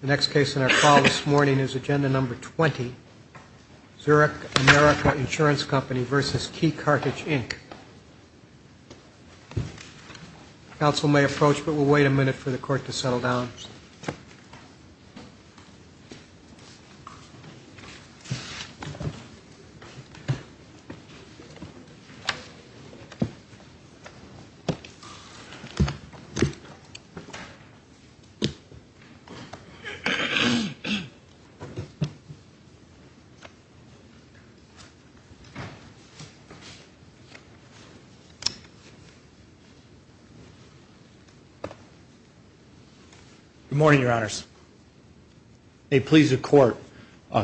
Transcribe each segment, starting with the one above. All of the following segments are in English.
The next case in our call this morning is agenda number 20, Zurich American Insurance Company v. Key Cartage, Inc. Counsel may approach, but we'll wait a minute for the court to settle down. Good morning, Your Honors. May it please the Court,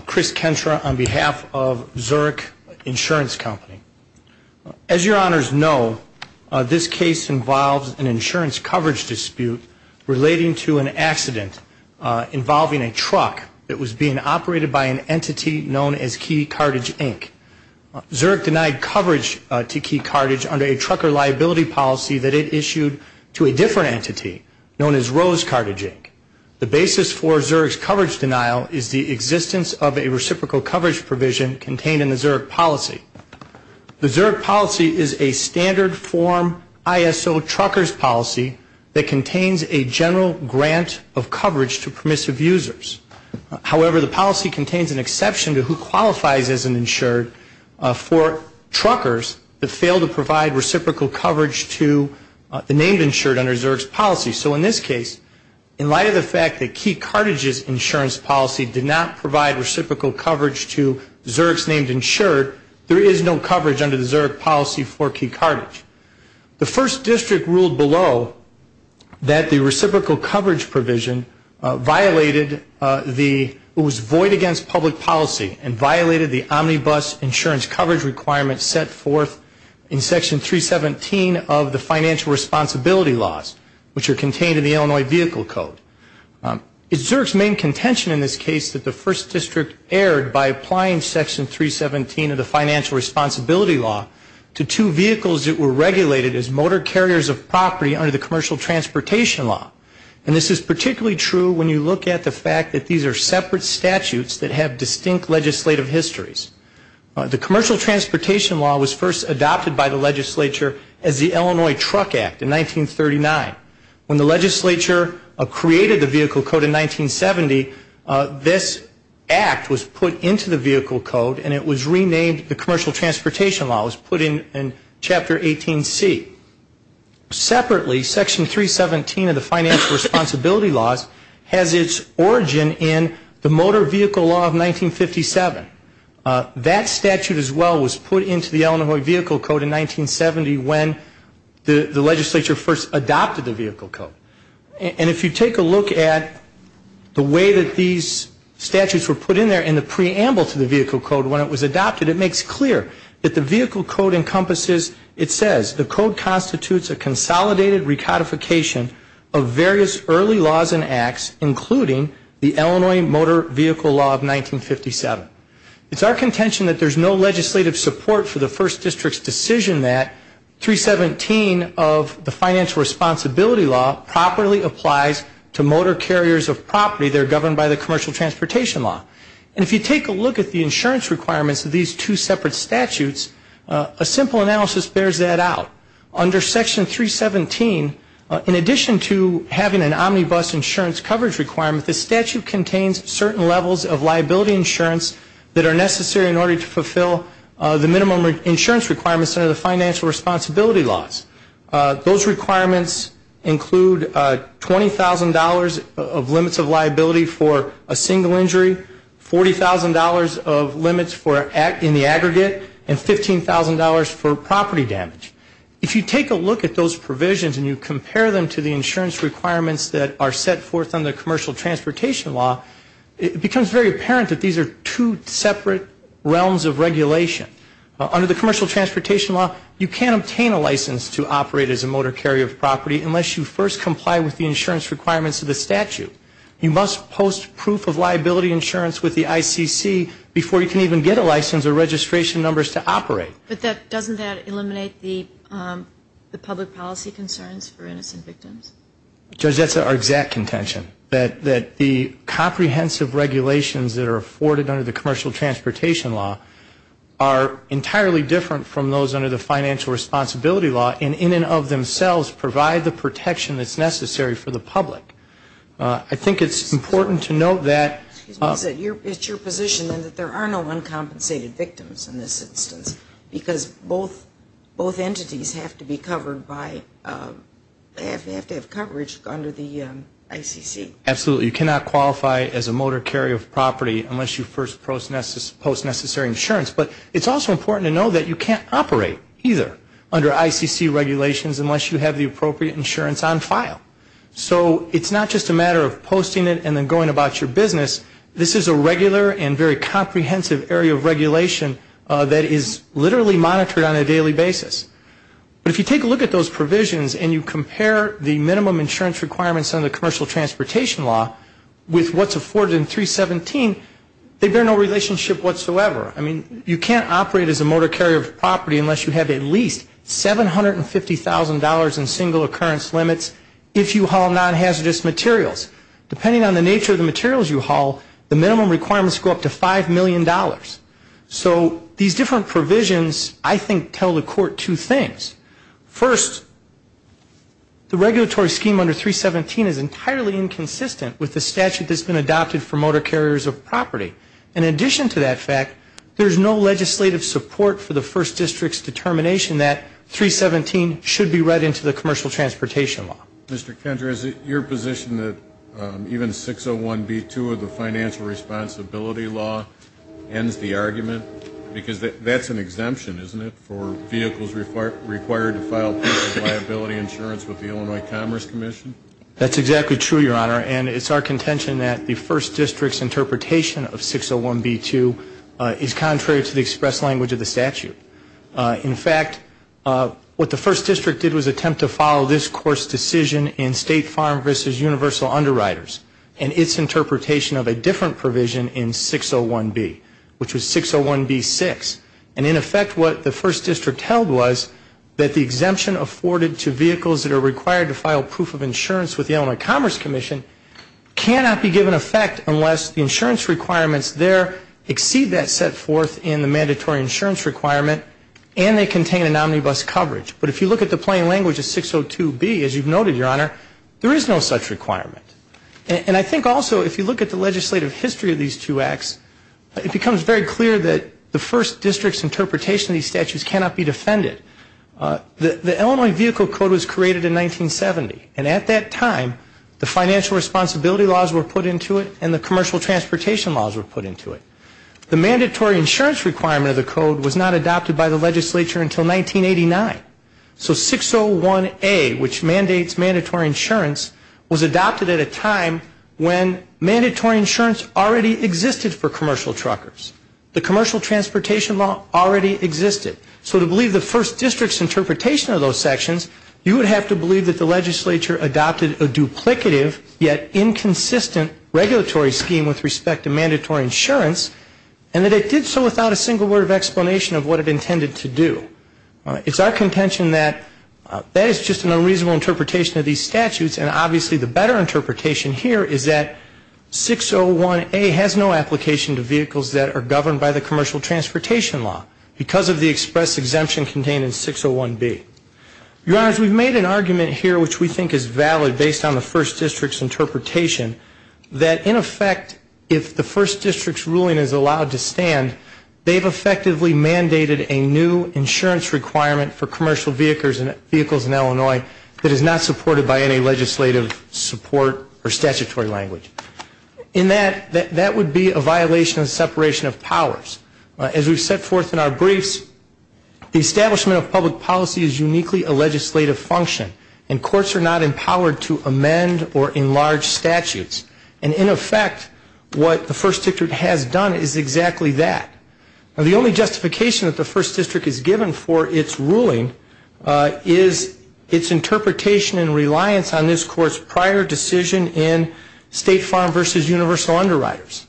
Chris Kentra on behalf of Zurich Insurance Company. As Your Honors know, this case involves an insurance coverage dispute relating to an accident involving a truck that was being operated by an entity known as Key Cartage, Inc. Zurich denied coverage to Key Cartage under a trucker liability policy that it issued to a different entity known as Rose Cartage, Inc. The basis for Zurich's coverage denial is the existence of a reciprocal coverage provision contained in the Zurich policy. The Zurich policy is a standard form ISO trucker's policy that contains a general grant of coverage to permissive users. However, the policy contains an exception to who qualifies as an insured for truckers that fail to provide reciprocal coverage to the named insured under Zurich's policy. So in this case, in light of the fact that Key Cartage's insurance policy did not provide reciprocal coverage to Zurich's named insured, there is no coverage under the Zurich policy for Key Cartage. The First District ruled below that the reciprocal coverage provision violated the, it was void against public policy and violated the omnibus insurance coverage requirements set forth in Section 317 of the Financial Responsibility Laws, which are contained in the Illinois Vehicle Code. It's Zurich's main contention in this case that the First District erred by applying Section 317 of the Financial Responsibility Law to two vehicles that were regulated as motor carriers of property under the Commercial Transportation Law. And this is particularly true when you look at the fact that these are separate statutes that have distinct legislative histories. The Commercial Transportation Law was first adopted by the legislature as the Illinois Truck Act in 1939. When the legislature created the Vehicle Code in 1970, this act was put into the Vehicle Code and it was re-enacted in the Illinois Truck Act. It was re-named the Commercial Transportation Law. It was put in Chapter 18C. Separately, Section 317 of the Financial Responsibility Laws has its origin in the Motor Vehicle Law of 1957. That statute as well was put into the Illinois Vehicle Code in 1970 when the legislature first adopted the Vehicle Code. And if you take a look at the way that these statutes were adopted, it makes clear that the Vehicle Code encompasses, it says, the Code constitutes a consolidated recodification of various early laws and acts, including the Illinois Motor Vehicle Law of 1957. It's our contention that there's no legislative support for the First District's decision that 317 of the Financial Responsibility Law properly applies to motor carriers of property that are governed by the Commercial Transportation Law. And if you take a look at the insurance requirements of these two separate statutes, a simple analysis bears that out. Under Section 317, in addition to having an omnibus insurance coverage requirement, the statute contains certain levels of liability insurance that are necessary in order to fulfill the minimum insurance requirements under the Financial Responsibility Laws. Those requirements include $20,000 of limits of liability for a single injury, $1,000 of limits of liability for a single injury, $40,000 of limits for in the aggregate, and $15,000 for property damage. If you take a look at those provisions and you compare them to the insurance requirements that are set forth under the Commercial Transportation Law, it becomes very apparent that these are two separate realms of regulation. Under the Commercial Transportation Law, you can't obtain a license to operate as a motor carrier of property unless you first comply with the insurance requirements of the statute. You must post proof of liability insurance with a license. You must post proof of liability insurance with the ICC before you can even get a license or registration numbers to operate. But that, doesn't that eliminate the public policy concerns for innocent victims? Judge, that's our exact contention, that the comprehensive regulations that are afforded under the Commercial Transportation Law are entirely different from those under the Financial Responsibility Law, and in and of themselves provide the protection that's necessary for the public. I think it's important to note that it's your position that there are no uncompensated victims in this instance, because both entities have to be covered by, they have to have coverage under the ICC. Absolutely. You cannot qualify as a motor carrier of property unless you first post necessary insurance. But it's also important to know that you can't operate either under ICC regulations unless you have the appropriate insurance on file. So it's not just a matter of posting it and then going about your business. This is a regular and very comprehensive area of regulation that is literally monitored on a daily basis. But if you take a look at those provisions and you compare the minimum insurance requirements under the Commercial Transportation Law with what's afforded in 317, they bear no relationship whatsoever. I mean, you can't operate as a motor carrier of property unless you have at least $750,000 in single occurrence limits if you haul non-hazardous materials. Depending on the nature of the materials you haul, the minimum requirements go up to $5 million. So these different provisions, I think, tell the Court two things. First, the regulatory scheme under 317 is entirely inconsistent with the statute that's been adopted for motor carriers of property. In addition to that fact, there's no legislative support for the First District's determination that 317 should be read into the Commercial Transportation Law. Mr. Kendra, is it your position that even 601B2 of the Financial Responsibility Law ends the argument? Because that's an exemption, isn't it, for vehicles required to file personal liability insurance with the Illinois Commerce Commission? That's exactly true, Your Honor. And it's our contention that the First District's interpretation of 601B2 is contrary to the express language of the statute. In fact, what the First District did was attempt to follow this Court's decision to make a provision in State Farm v. Universal Underwriters and its interpretation of a different provision in 601B, which was 601B6. And in effect, what the First District held was that the exemption afforded to vehicles that are required to file proof of insurance with the Illinois Commerce Commission cannot be given effect unless the insurance requirements there exceed that set forth in the mandatory insurance requirement and they contain an omnibus coverage. But if you look at the plain language of 602B, as you've noted, Your Honor, there is no such requirement. And I think also if you look at the legislative history of these two acts, it becomes very clear that the First District's interpretation of these statutes cannot be defended. The Illinois Vehicle Code was created in 1970. And at that time, the Financial Responsibility Laws were put into it and the Commercial Transportation Laws were put into it. The mandatory insurance requirement of the code was not adopted by the legislature until 1989. So 601A, which mandates mandatory insurance, was adopted at a time when mandatory insurance already existed for commercial truckers. The Commercial Transportation Law already existed. So to believe the First District's interpretation of those sections, you would have to believe that the legislature adopted a duplicative, yet inconsistent regulatory scheme with respect to mandatory insurance, and that it did so without a single word of explanation of what it intended to do. It's our contention that that is just an unreasonable interpretation of these statutes, and obviously the better interpretation here is that 601A has no application to vehicles that are governed by the Commercial Transportation Law because of the express exemption contained in 601B. Your Honors, we've made an argument here which we think is valid based on the First District's interpretation that, in effect, if the First District's interpretation of the First District's ruling is allowed to stand, they've effectively mandated a new insurance requirement for commercial vehicles in Illinois that is not supported by any legislative support or statutory language. In that, that would be a violation of separation of powers. As we've set forth in our briefs, the establishment of public policy is uniquely a legislative function, and courts are not empowered to amend or enlarge statutes. And in fact, what the First District has done is exactly that. Now, the only justification that the First District is given for its ruling is its interpretation and reliance on this Court's prior decision in State Farm v. Universal Underwriters.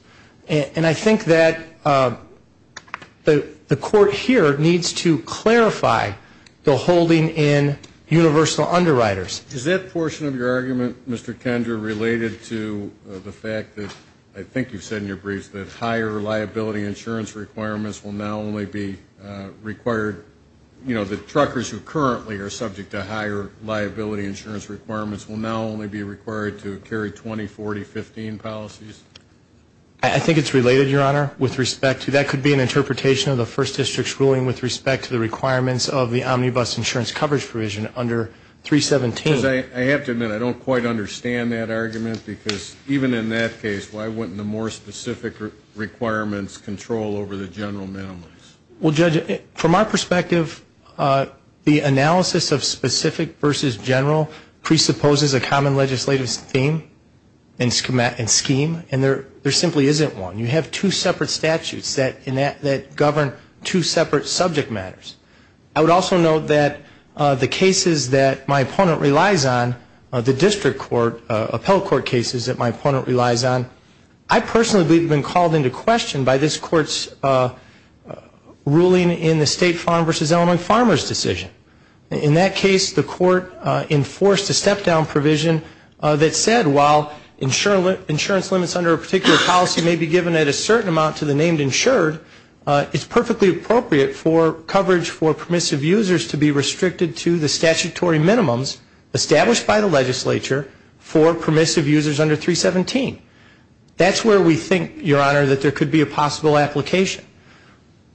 And I think that the Court here needs to clarify the holding in Universal Underwriters. Is that portion of your argument, Mr. Kendra, related to the fact that I think you've said in your briefs that higher liability insurance requirements will now only be required, you know, the truckers who currently are subject to higher liability insurance requirements will now only be required to carry 20, 40, 15 policies? I think it's related, Your Honor, with respect to that could be an interpretation of the First District's ruling with respect to the requirements of the Omnibus Insurance Coverage Provision under 317. I have to admit, I don't quite understand that argument, because even in that case, why wouldn't the more specific requirements control over the general minimums? Well, Judge, from our perspective, the analysis of specific v. general presupposes a common legislative scheme, and there simply isn't one. You have two separate statutes that govern two separate subject matters. I would also note that the cases that my opponent relies on, the district court, appellate court cases that my opponent relies on, I personally believe have been called into question by this Court's ruling in the State Farm v. Illinois Farmers' decision. In that case, the Court enforced a step-down provision that said while insurance limits under a particular policy may be given at a certain amount to the named insured, it's perfectly appropriate for coverage for permissive users to be restricted to the statutory minimums established by the legislature for permissive users under 317. That's where we think, Your Honor, that there could be a possible application.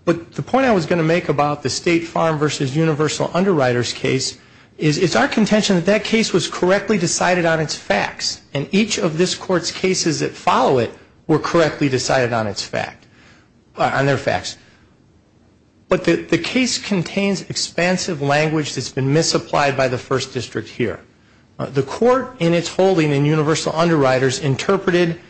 But the point I was going to make about the State Farm v. Universal Underwriters case is it's our contention that that case was correctly decided on its facts, and each of this Court's cases that follow it were correctly decided on their facts. But the case contains expansive language that's been misapplied by the First District here. The Court in its holding in Universal Underwriters interpreted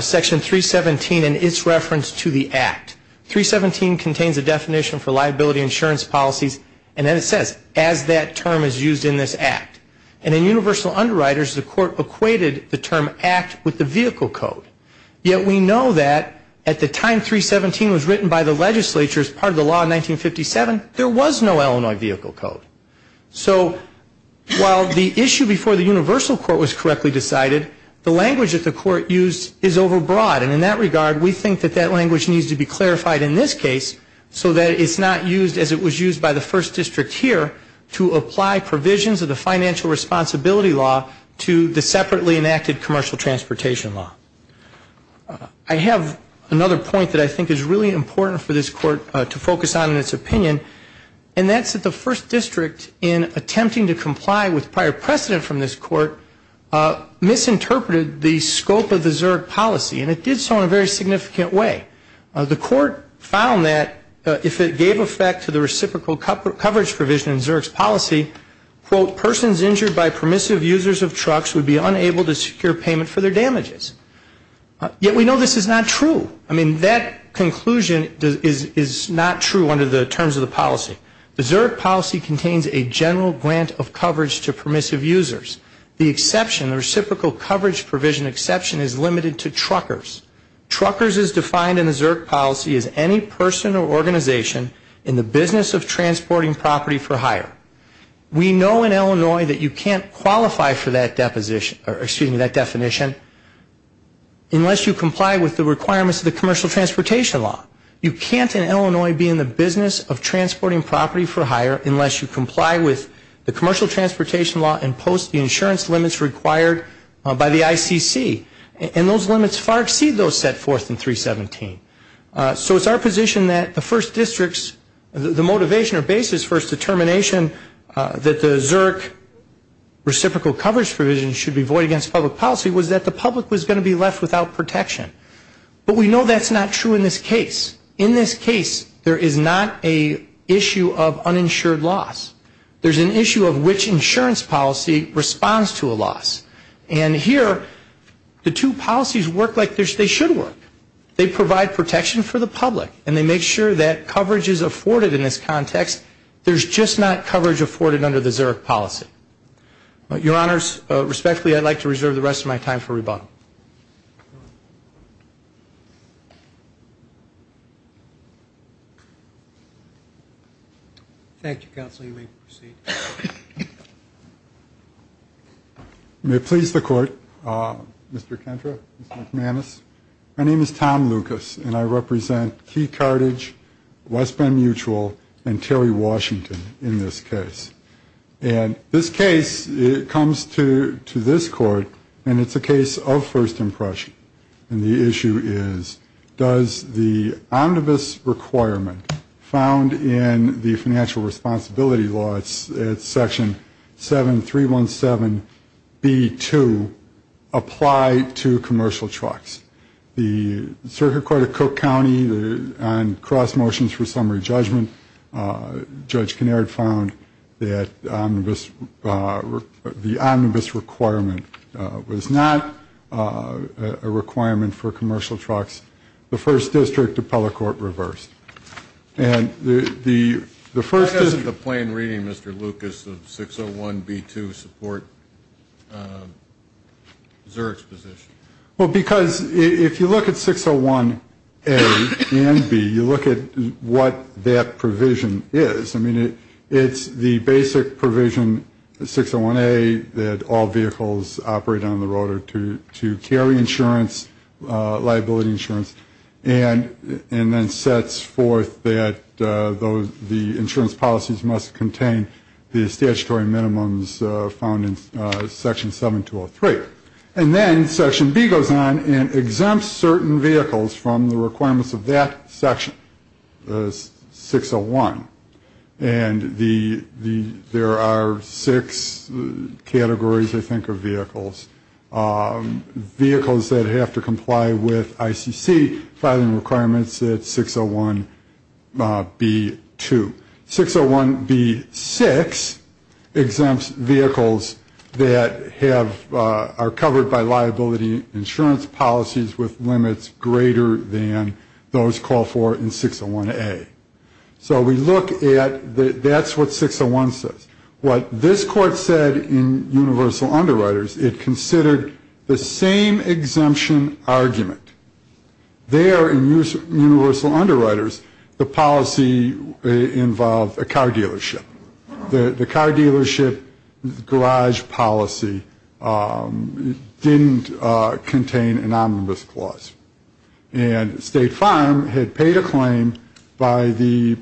Section 317 in its reference to the Act. 317 contains a definition for liability insurance policies, and then it says, as that term is used in this Act. And in Universal Underwriters, the Court equated the term Act with the vehicle code. Yet we know that at the time 317 was written by the legislature as part of the law in 1957, there was no Illinois vehicle code. So while the issue before the Universal Court was correctly decided, the language that the Court used is overbroad. And in that regard, we think that that language needs to be clarified in this case so that it's not used as it was used by the First District here to apply provisions of the financial responsibility law to the separately enacted commercial transportation law. I have another point that I think is really important for this Court to focus on in its opinion, and that's that the First District in attempting to comply with prior precedent from this Court misinterpreted the scope of the Zerg policy, and it did so in a very significant way. In the Zerg policy, quote, persons injured by permissive users of trucks would be unable to secure payment for their damages. Yet we know this is not true. I mean, that conclusion is not true under the terms of the policy. The Zerg policy contains a general grant of coverage to permissive users. The exception, the reciprocal coverage provision exception, is limited to truckers. Truckers is defined in the Zerg policy as any person or organization in the business of transporting property for hire. We know in Illinois that you can't qualify for that definition unless you comply with the requirements of the commercial transportation law. You can't in Illinois be in the business of transporting property for hire unless you comply with the commercial transportation law and post the insurance limits required by the ICC. And those limits far exceed those set forth in 317. So it's our position that the First District's, the motivation or basis for its determination that the Zerg reciprocal coverage provision should be void against public policy was that the public was going to be left without protection. But we know that's not true in this case. In this case, there is not an issue of uninsured loss. There's an issue of which insurance policy responds to a loss. The two policies work like they should work. They provide protection for the public and they make sure that coverage is afforded in this context. There's just not coverage afforded under the Zerg policy. Your Honors, respectfully, I'd like to reserve the rest of my time for rebuttal. Thank you, Counsel. You may proceed. Thank you, Mr. Kentra, Mr. McManus. My name is Tom Lucas, and I represent Key Carthage, West Bend Mutual, and Terry Washington in this case. And this case comes to this Court, and it's a case of first impression. And the issue is, does the omnibus requirement found in the financial responsibility law, it's Section 7.317.B.2, apply to commercial trucks? The Circuit Court of Cook County, on cross motions for summary judgment, Judge Kinnaird found that the omnibus requirement was not a requirement for commercial trucks. The First District Appellate Court reversed. And the First District... Zerg's position. Well, because if you look at 601A and B, you look at what that provision is. I mean, it's the basic provision, 601A, that all vehicles operate on the road or to carry insurance, liability insurance, and then sets forth that the insurance policies must contain the statutory minimums found in Section 7.203. And then Section B goes on and exempts certain vehicles from the requirements of that section, 601. And there are six categories, I think, of vehicles. Vehicles that have to comply with ICC filing requirements at 601.B.2. 601.B.6 exempts vehicles that have a license to drive. Vehicles that are covered by liability insurance policies with limits greater than those called for in 601A. So we look at, that's what 601 says. What this Court said in universal underwriters, it considered the same exemption argument. There in universal underwriters, the policy involved a car dealership. The car dealership garage policy didn't contain an omnibus clause. And State Farm had paid a claim by the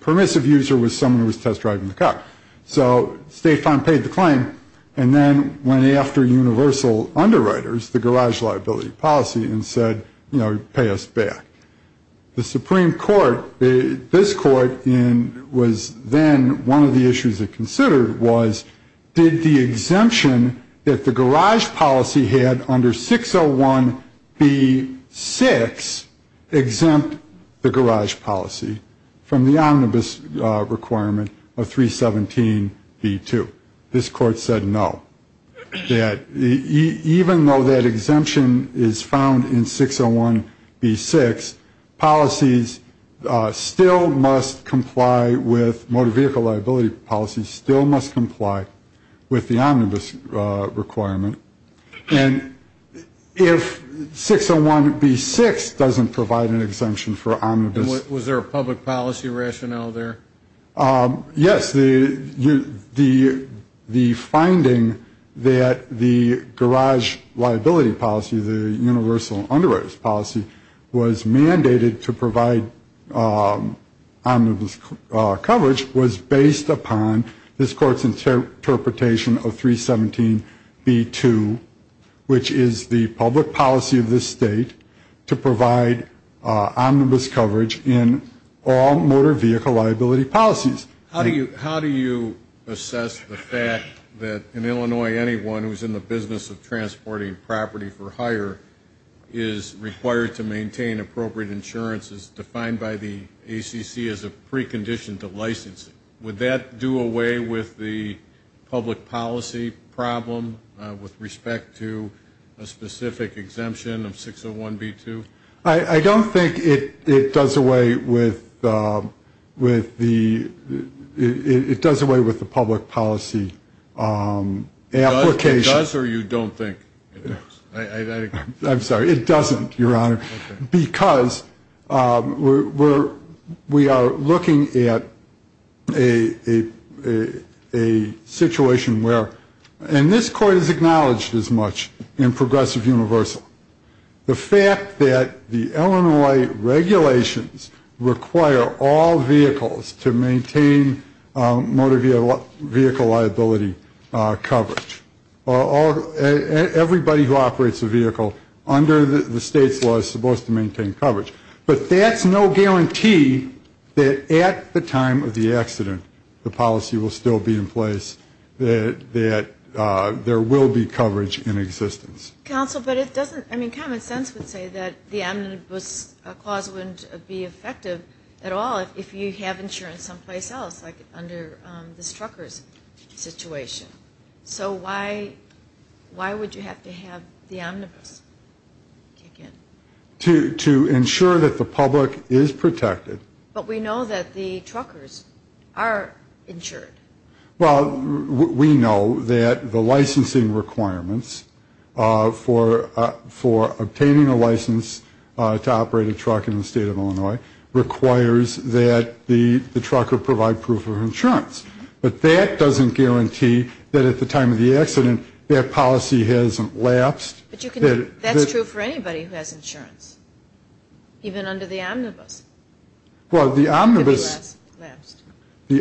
permissive user was someone who was test driving the car. So State Farm paid the claim and then went after universal underwriters, the garage liability policy, and said, you know, pay us back. The Supreme Court, this Court was then, one of the issues it considered was, did the exemption that the garage policy had under 601.B.6 exempt the garage policy from the omnibus requirement of 317.B.2. This Court said no. That even though that exemption is found in 601.B.6, policies still must comply with motor vehicle liability policies, still must comply with the omnibus requirement. And if 601.B.6 doesn't provide an exemption for omnibus. Was there a public policy rationale there? Yes. The finding that the garage liability policy, the universal underwriters policy, was mandated to provide omnibus coverage was based upon this Court's interpretation of 317.B.2, which is the public policy of this State to provide omnibus coverage in all motor vehicle liability policies. How do you assess the fact that in Illinois, anyone who's in the business of transporting property for hire is required to maintain appropriate insurance as defined by the ACC as a precondition to license it? Would that do away with the public policy problem with respect to a specific exemption of 601.B.2? I don't think it does away with the public policy application. It does or you don't think it does? I'm sorry, it doesn't, Your Honor, because we are looking at a situation where, and this Court has acknowledged as much in progressive universal. The fact that the Illinois regulations require all vehicles to maintain motor vehicle liability coverage, everybody who operates a vehicle under the State's law is supposed to maintain coverage. But that's no guarantee that at the time of the accident the policy will still be in place, that there will be coverage in existence. Counsel, but it doesn't, I mean, common sense would say that the omnibus clause wouldn't be effective at all if you have insurance someplace else, like under this trucker's situation. So why would you have to have the omnibus kick in? To ensure that the public is protected. But we know that the truckers are insured. Well, we know that the licensing requirements for obtaining a license to operate a truck in the State of Illinois requires that the trucker provide proof of insurance. But that doesn't guarantee that at the time of the accident that policy hasn't lapsed. But that's true for anybody who has insurance, even under the omnibus. Well, the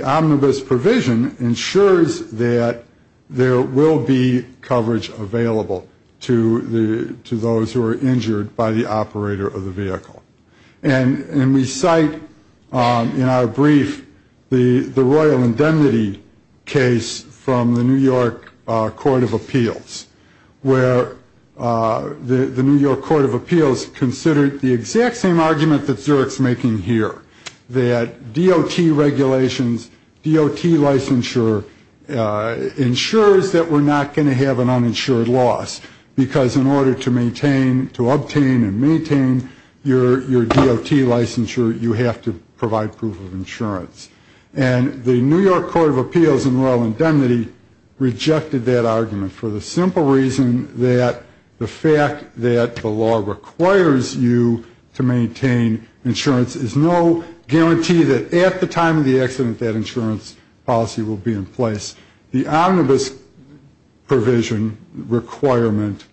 omnibus provision ensures that there will be coverage available to those who are injured by the operator of the vehicle. And we cite in our brief the Royal Indemnity case from the New York Court of Appeals, where the New York Court of Appeals considered the exact same argument that Zurich's making here, that DOT regulations, DOT licensure ensures that we're not going to have an uninsured loss, because in order to maintain, to obtain and maintain your DOT licensure, you have to provide proof of insurance. And the New York Court of Appeals in Royal Indemnity rejected that argument for the simple reason that the fact that the law requires you to maintain insurance is no guarantee that at the time of the accident that insurance policy will be in place. The omnibus provision requirement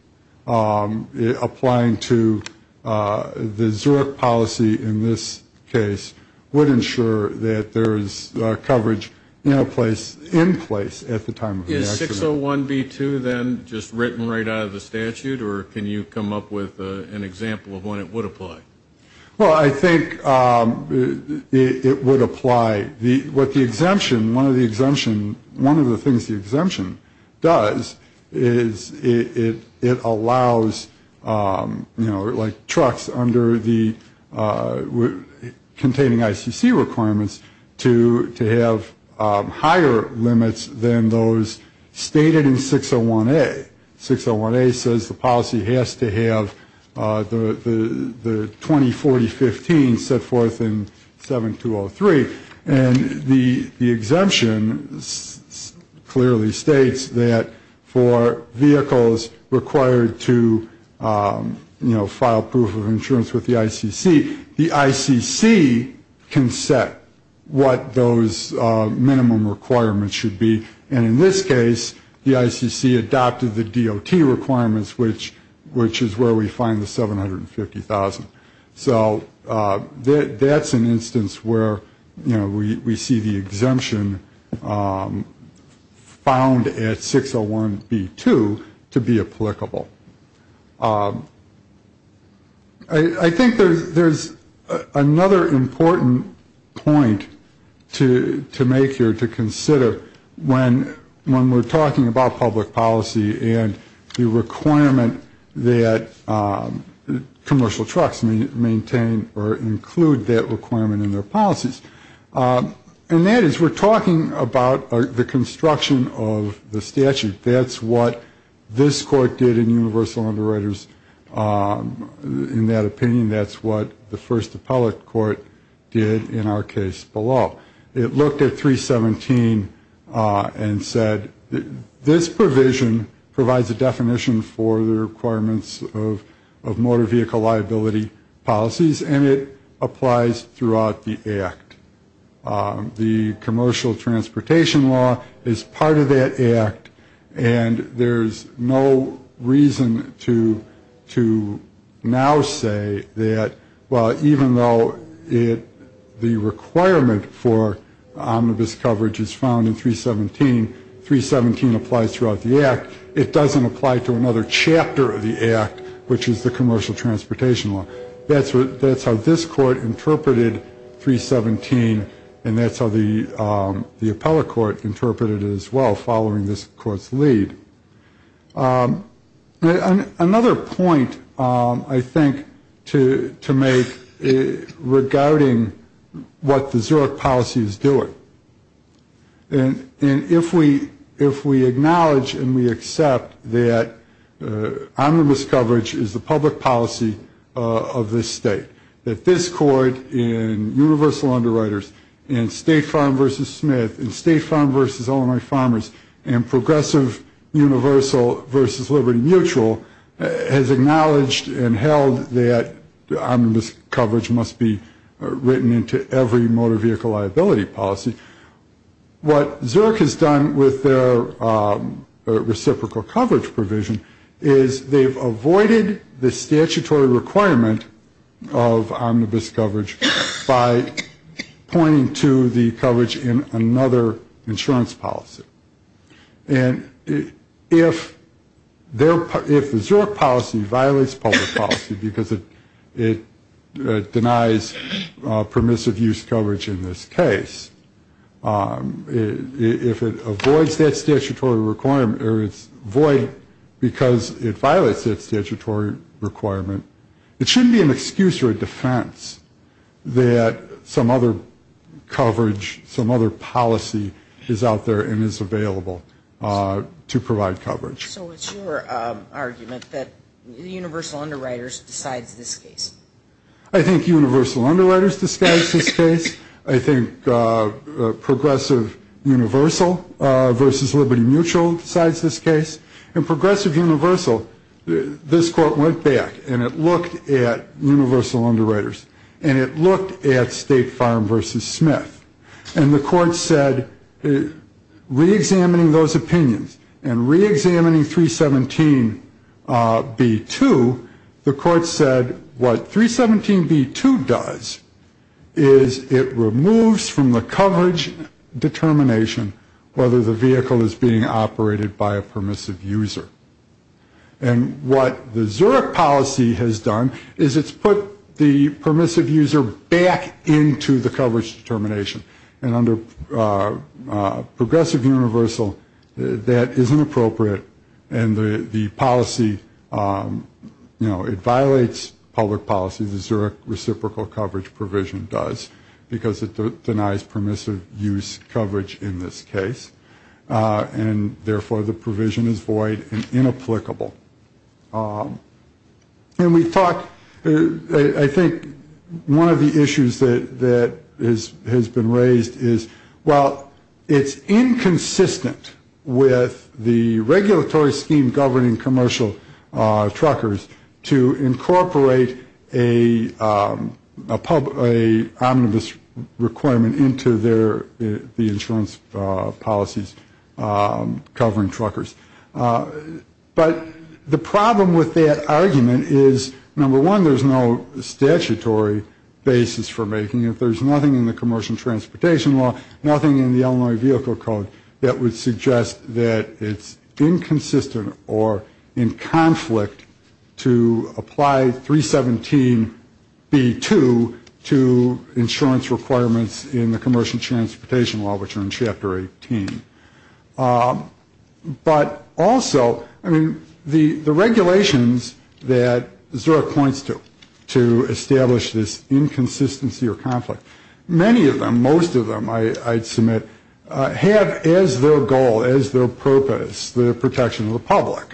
applying to the Zurich policy in this case would ensure that there is coverage in place at the time of the accident. Is 601B2 then just written right out of the statute, or can you come up with an example of when it would apply? Well, I think it would apply. What the exemption, one of the things the exemption does is it allows, you know, like trucks containing ICC requirements to have higher limits than those stated in 601A. 601A says the policy has to have the 204015 set forth in 7203. And the exemption clearly states that for vehicles required to, you know, file proof of insurance with the ICC, the ICC can set what those minimum requirements should be. And in this case, the ICC adopted the DOT requirements, which is where we find the $750,000. So that's an instance where, you know, we see the exemption found at 601B2 to be applicable. I think there's another important point to make here to consider when, you know, when you're looking at the ICC. And when we're talking about public policy and the requirement that commercial trucks maintain or include that requirement in their policies. And that is we're talking about the construction of the statute. That's what this court did in universal underwriters in that opinion. That's what the first appellate court did in our case below. It looked at 317 and said, this provision provides a definition for the requirements of motor vehicle liability policies and it applies throughout the act. The commercial transportation law is part of that act. And there's no reason to now say that, well, even though it, the requirement for commercial vehicle liability is part of that act, or omnibus coverage is found in 317, 317 applies throughout the act. It doesn't apply to another chapter of the act, which is the commercial transportation law. That's how this court interpreted 317 and that's how the appellate court interpreted it as well, following this court's lead. Another point I think to make regarding what the Zurich policy is, is that, you know, there's a lot of different things that the Zurich policy is doing. And if we acknowledge and we accept that omnibus coverage is the public policy of this state, that this court in universal underwriters and state farm versus Smith and state farm versus Illinois farmers and progressive universal versus liberty mutual has acknowledged and held that omnibus coverage must be written into every motor vehicle liability act. And if we acknowledge that omnibus coverage is the public policy, what Zurich has done with their reciprocal coverage provision is they've avoided the statutory requirement of omnibus coverage by pointing to the coverage in another insurance policy. And if the Zurich policy violates public policy because it denies permissive use coverage in this case, then the Zurich policy violates public policy. And if the Zurich policy violates public policy because it denies permissive use coverage in this case, if it avoids that statutory requirement or it's void because it violates that statutory requirement, it shouldn't be an excuse or a defense that some other coverage, some other policy is out there and is available to provide coverage. So it's your argument that universal underwriters decides this case? I think universal underwriters decides this case. I think progressive universal versus liberty mutual decides this case. And progressive universal, this court went back and it looked at universal underwriters and it looked at state farm versus Smith. And the court said, reexamining those opinions and reexamining 317B2, the court said, well, it doesn't matter. What 317B2 does is it removes from the coverage determination whether the vehicle is being operated by a permissive user. And what the Zurich policy has done is it's put the permissive user back into the coverage determination. And under progressive universal, that isn't appropriate and the policy, you know, it violates public policy. The Zurich reciprocal coverage provision does because it denies permissive use coverage in this case. And therefore, the provision is void and inapplicable. And we thought, I think one of the issues that has been raised is, well, it's inconsistent with the regulatory scheme governing commercial truckers to incorporate an omnibus requirement into the insurance policies covering truckers. But the problem with that argument is, number one, there's no statutory basis for making it. There's nothing in the commercial transportation law, nothing in the Illinois vehicle code that would suggest that it's inconsistent or in conflict to apply 317B2 to insurance requirements in the commercial transportation law, which are in Chapter 18. But also, I mean, the regulations that Zurich points to, to establish this inconsistency or conflict, many of them, most of them, I'd submit, have as their goal, as their purpose, the protection of the public.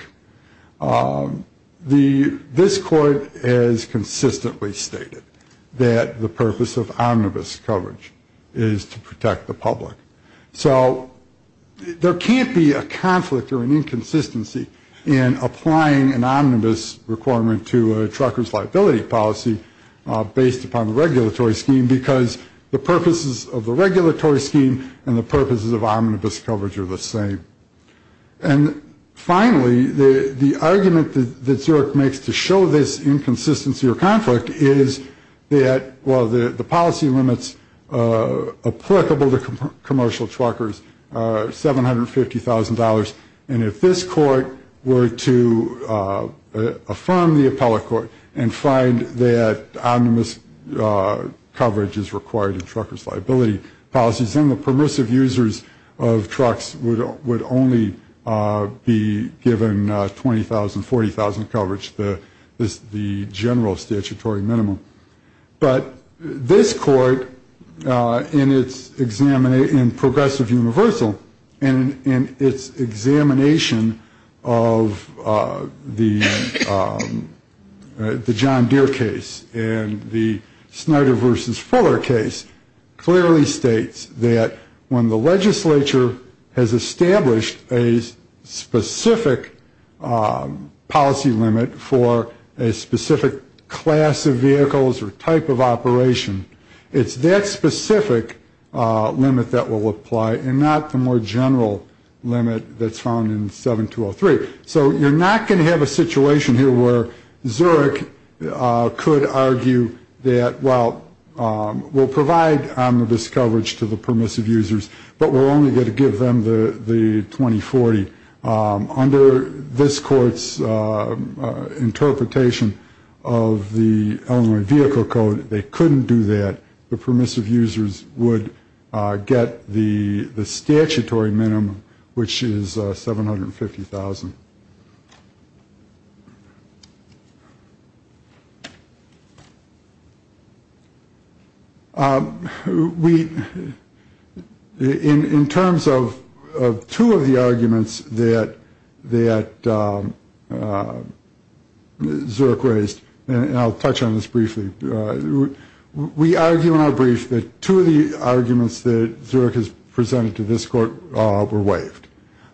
This court has consistently stated that the purpose of omnibus coverage is to protect the public. So there can't be a conflict or an inconsistency in applying an omnibus requirement to a trucker's liability policy based upon the regulatory scheme, because the purposes of the regulatory scheme and the purposes of omnibus coverage are the same. And finally, the argument that Zurich makes to show this inconsistency or conflict is that, well, the policy limits applicable to commercial truckers are $750,000. And if this court were to affirm the appellate court and find that omnibus coverage is required in truckers' liability policies, then the permissive users of trucks would only be given $20,000, $40,000 coverage, the general statutory minimum. But this court, in its progressive universal, in its examination of the John Deere case and the Snyder versus Fuller case, clearly states that when the legislature has established a specific policy limit for a specific class of vehicles or type of operation, it's that specific limit that will apply and not the more general limit that's found in 7203. So you're not going to have a situation here where Zurich could argue that, well, we'll provide a specific policy limit to provide omnibus coverage to the permissive users, but we're only going to give them the $20,000, $40,000. Under this court's interpretation of the Illinois Vehicle Code, they couldn't do that. The permissive users would get the statutory minimum, which is $750,000. We, in terms of two of the arguments that Zurich raised, and I'll touch on this briefly, we argue in our brief that two of the arguments that Zurich has presented to this court were waived.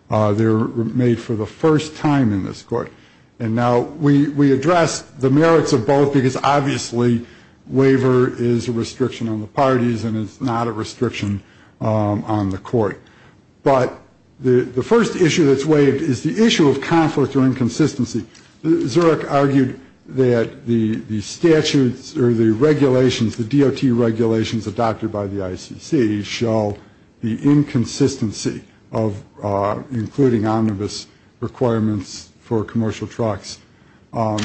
They were made for the first time in this court. And now we address the merits of both, because obviously waiver is a restriction on the parties and it's not a restriction on the court. But the first issue that's waived is the issue of conflict or inconsistency. Zurich argued that the statutes or the regulations, the DOT regulations adopted by the ICC, show the inconsistency of including omnibus requirements for commercial trucks.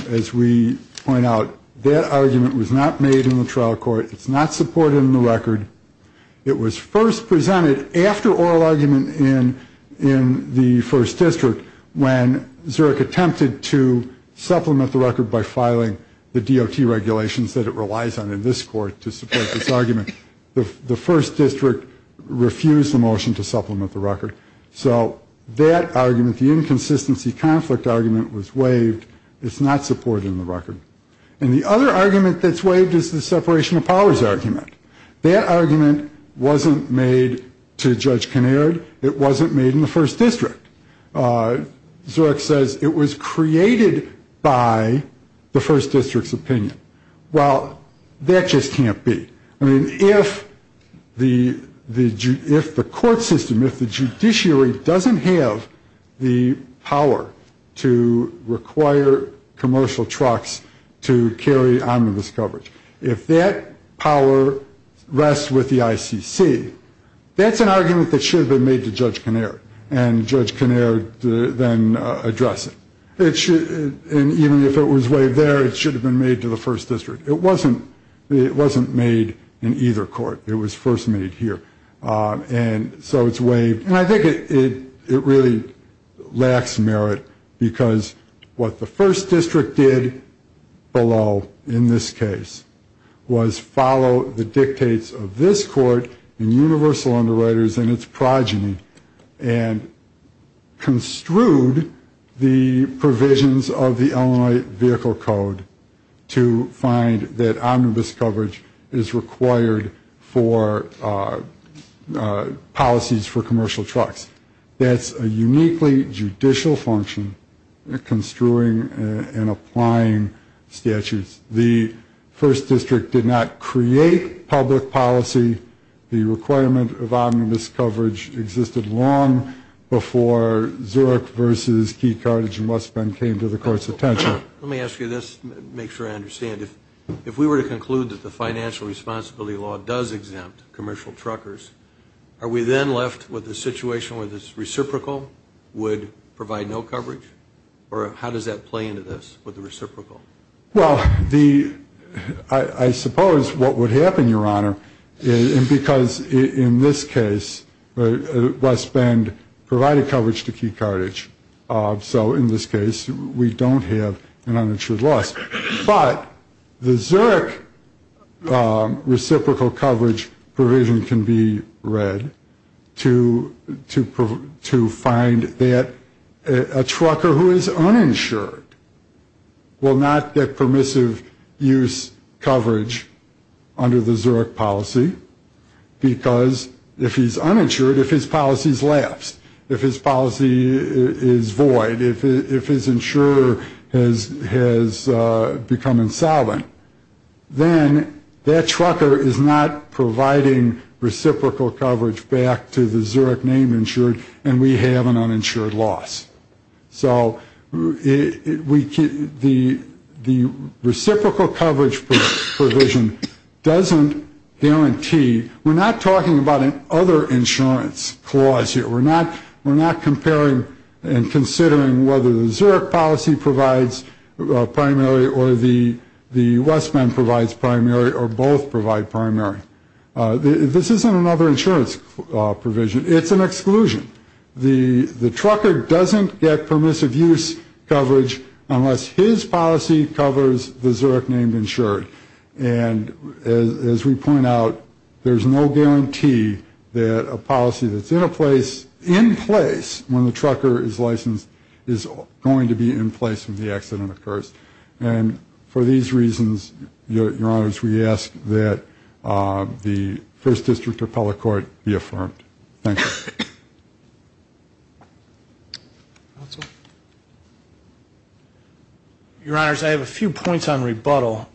As we point out, that argument was not made in the trial court. It's not supported in the record. It was first presented after oral argument in the first district when Zurich attempted to supplement the record by filing the DOT regulations that it relies on in this court to support this argument. The first district refused the motion to supplement the record. So that argument, the inconsistency conflict argument, was waived. It's not supported in the record. And the other argument that's waived is the separation of powers argument. That argument wasn't made to Judge Kinnaird. It wasn't made in the first district. Zurich says it was created by the first district's opinion. Well, that just can't be. I mean, if the court system, if the judiciary doesn't have the power to require commercial trucks to carry omnibus coverage, if that power rests with the ICC, that's an argument that should have been made to Judge Kinnaird. And Judge Kinnaird then addressed it. And even if it was waived there, it should have been made to the first district. It wasn't made in either court. It was first made here. And so it's waived. And I think it really lacks merit, because what the first district did below in this case was follow the dictates of this court and universal underwriters and its progeny and construed the provisions of the Illinois Vehicle Code to find that omnibus coverage is required for policies for commercial trucks. That's a uniquely judicial function construing and applying statutes. The first district did not create public policy. The requirement of omnibus coverage existed long before Zurich versus Key, Carthage and West Bend came to the court's attention. Let me ask you this to make sure I understand. If we were to conclude that the financial responsibility law does exempt commercial truckers, are we then left with a situation where the reciprocal would provide no coverage? Or how does that play into this, with the reciprocal? Well, the, I suppose what would happen, Your Honor, is because in this case, West Bend provided coverage to Key, Carthage. So in this case, we don't have an uninsured loss. But the Zurich reciprocal coverage provision can be read to find that a trucker who is uninsured will not be covered. He will not get permissive use coverage under the Zurich policy, because if he's uninsured, if his policy is lapsed, if his policy is void, if his insurer has become insolvent, then that trucker is not providing reciprocal coverage back to the Zurich name insured, and we have an uninsured loss. So the reciprocal coverage provision doesn't guarantee, we're not talking about an other insurance clause here. We're not comparing and considering whether the Zurich policy provides primary or the West Bend provides primary or both provide primary. This isn't another insurance provision. It's an exclusion. The trucker doesn't get permissive use coverage unless his policy covers the Zurich name insured. And as we point out, there's no guarantee that a policy that's in place when the trucker is licensed is going to be in place when the accident occurs. Thank you. Your Honors, I have a few points on rebuttal.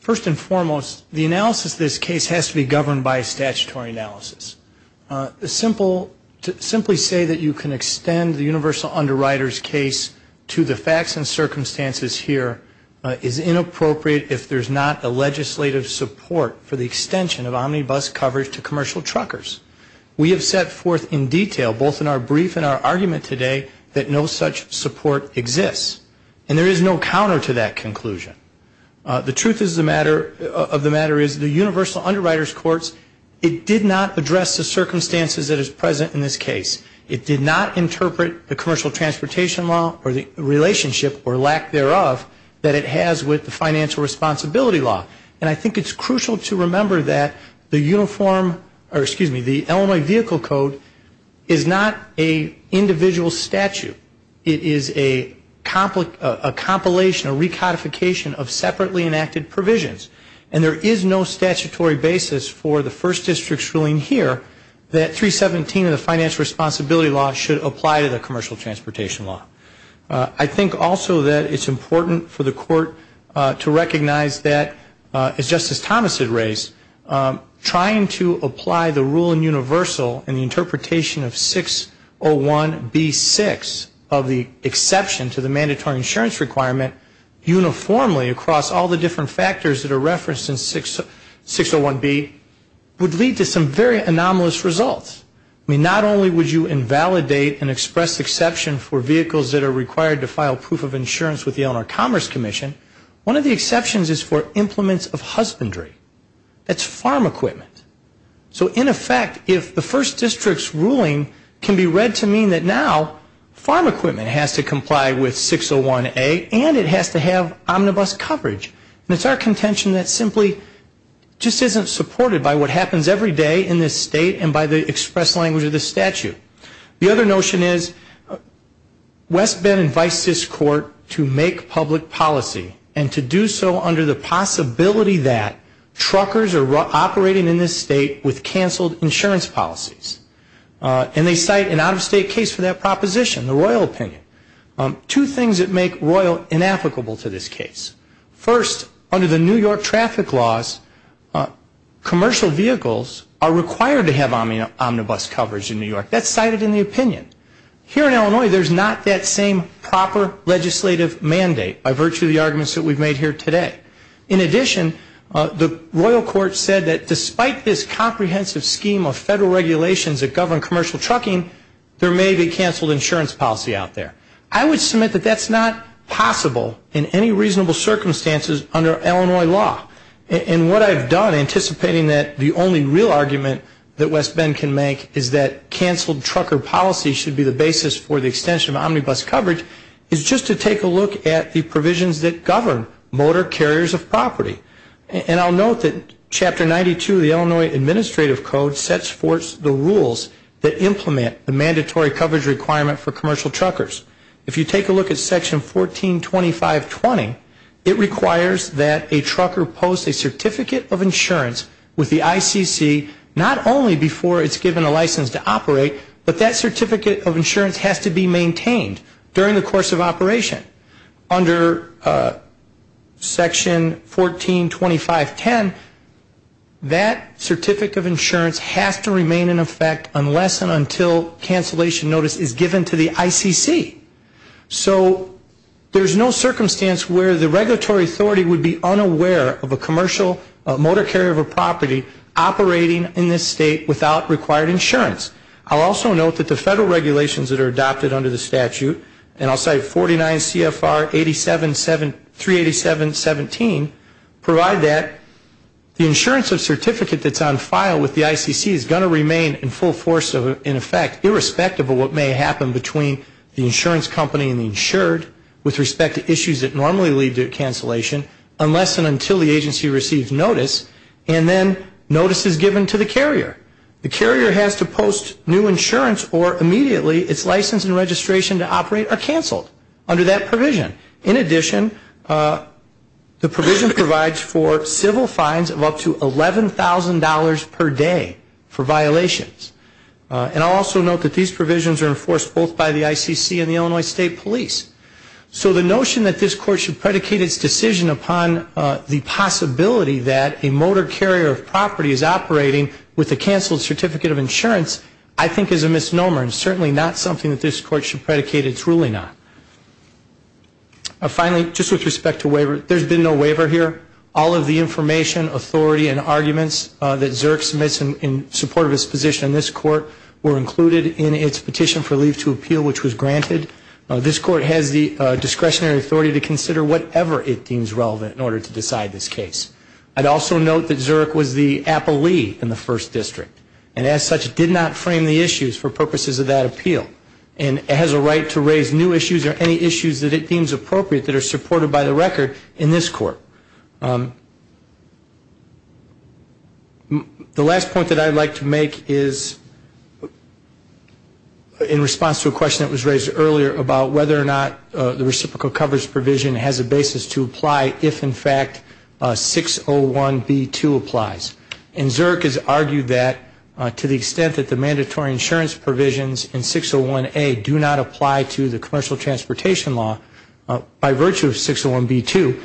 First and foremost, the analysis of this case has to be governed by a statutory analysis. Simply say that you can extend the universal underwriters case to the facts and circumstances here is inappropriate if there's not a legislative support for the extension of omnibus coverage to commercial truckers. We have set forth in detail, both in our brief and our argument today, that no such support exists. And there is no counter to that conclusion. The truth of the matter is the universal underwriters courts, it did not address the circumstances that is present in this case. It did not interpret the commercial transportation law or the relationship or lack thereof that it has with the financial responsibility law. And I think it's crucial to remember that the uniform, or excuse me, the Illinois vehicle code is not an individual statute. It is a compilation, a recodification of separately enacted provisions. And there is no statutory basis for the first district's ruling here that 317 of the financial responsibility law should apply to the commercial transportation law. I think also that it's important for the court to recognize that, as Justice Thomas had raised, trying to apply the rule in universal and the interpretation of 601B6 of the exception to the mandatory insurance requirement uniformly across all the different factors that are referenced in 601B would lead to some very anomalous results. I mean, not only would you invalidate and express exception for vehicles that are required to file proof of insurance with the Illinois Commerce Commission, one of the exceptions is for implements of husbandry. That's farm equipment. So in effect, if the first district's ruling can be read to mean that now farm equipment has to comply with 601A and it has to have omnibus coverage, and it's our responsibility to express language of the statute. The other notion is West Bend invites this court to make public policy and to do so under the possibility that truckers are operating in this state with canceled insurance policies. And they cite an out-of-state case for that proposition, the Royal opinion. Two things that make Royal inapplicable to this case. First, under the New York traffic laws, commercial vehicles are required to have omnibus coverage in New York. That's cited in the opinion. Here in Illinois, there's not that same proper legislative mandate by virtue of the arguments that we've made here today. In addition, the Royal Court said that despite this comprehensive scheme of federal regulations that govern commercial trucking, there may be canceled insurance policy out there. I would submit that that's not possible in any reasonable circumstances under Illinois law. And what I've done, anticipating that the only real argument that West Bend can make is that canceled trucker policy should be the basis for the extension of omnibus coverage, is just to take a look at the provisions that govern motor carriers of property. And I'll note that Chapter 92 of the Illinois Administrative Code sets forth the rules that implement the mandatory coverage requirement for commercial truckers. If you take a look at Section 1425.20, it requires that a trucker post a certificate of insurance with the ICC, not only before it's given a license to operate, but that certificate of insurance has to be maintained during the course of operation. Under Section 1425.10, that certificate of insurance has to remain in effect unless and until cancellation notice is given to the trucker. And that certificate of insurance has to be given to the ICC. So there's no circumstance where the regulatory authority would be unaware of a commercial motor carrier of a property operating in this state without required insurance. I'll also note that the federal regulations that are adopted under the statute, and I'll cite 49 CFR 387.17, provide that the insurance of certificate that's on file with the ICC is going to remain in full force of, in effect, irrespective of what may happen between the insurance company and the insured with respect to issues that normally lead to cancellation, unless and until the agency receives notice, and then notice is given to the carrier. The carrier has to post new insurance or immediately its license and registration to operate are canceled under that provision. In addition, the provision provides for civil fines of up to $11,000 per year. $11,000 per day for violations. And I'll also note that these provisions are enforced both by the ICC and the Illinois State Police. So the notion that this court should predicate its decision upon the possibility that a motor carrier of property is operating with a canceled certificate of insurance, I think is a misnomer, and certainly not something that this court should predicate its ruling on. Finally, just with respect to waiver, there's been no waiver here. All of the information, authority, and arguments that Zurich submits in support of its position in this court were included in its Petition for Leave to Appeal, which was granted. This court has the discretionary authority to consider whatever it deems relevant in order to decide this case. I'd also note that Zurich was the appellee in the First District, and as such, did not frame the issues for purposes of that appeal. And it has a right to raise new issues or any issues that it deems appropriate that are supported by the record in this court. The last point that I'd like to make is in response to a question that was raised earlier about whether or not the reciprocal coverage provision has a basis to apply if, in fact, 601B2 applies. And Zurich has argued that to the extent that the mandatory insurance provisions in 601A do not apply to the commercial transportation law by virtue of 601B2,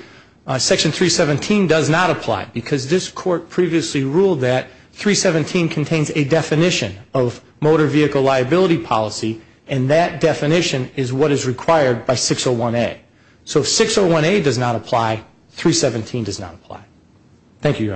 section 317 does not apply. Because this court previously ruled that 317 contains a definition of motor vehicle liability policy, and that definition is what is required by 601A. So if 601A does not apply, 317 does not apply. Thank you, counsel.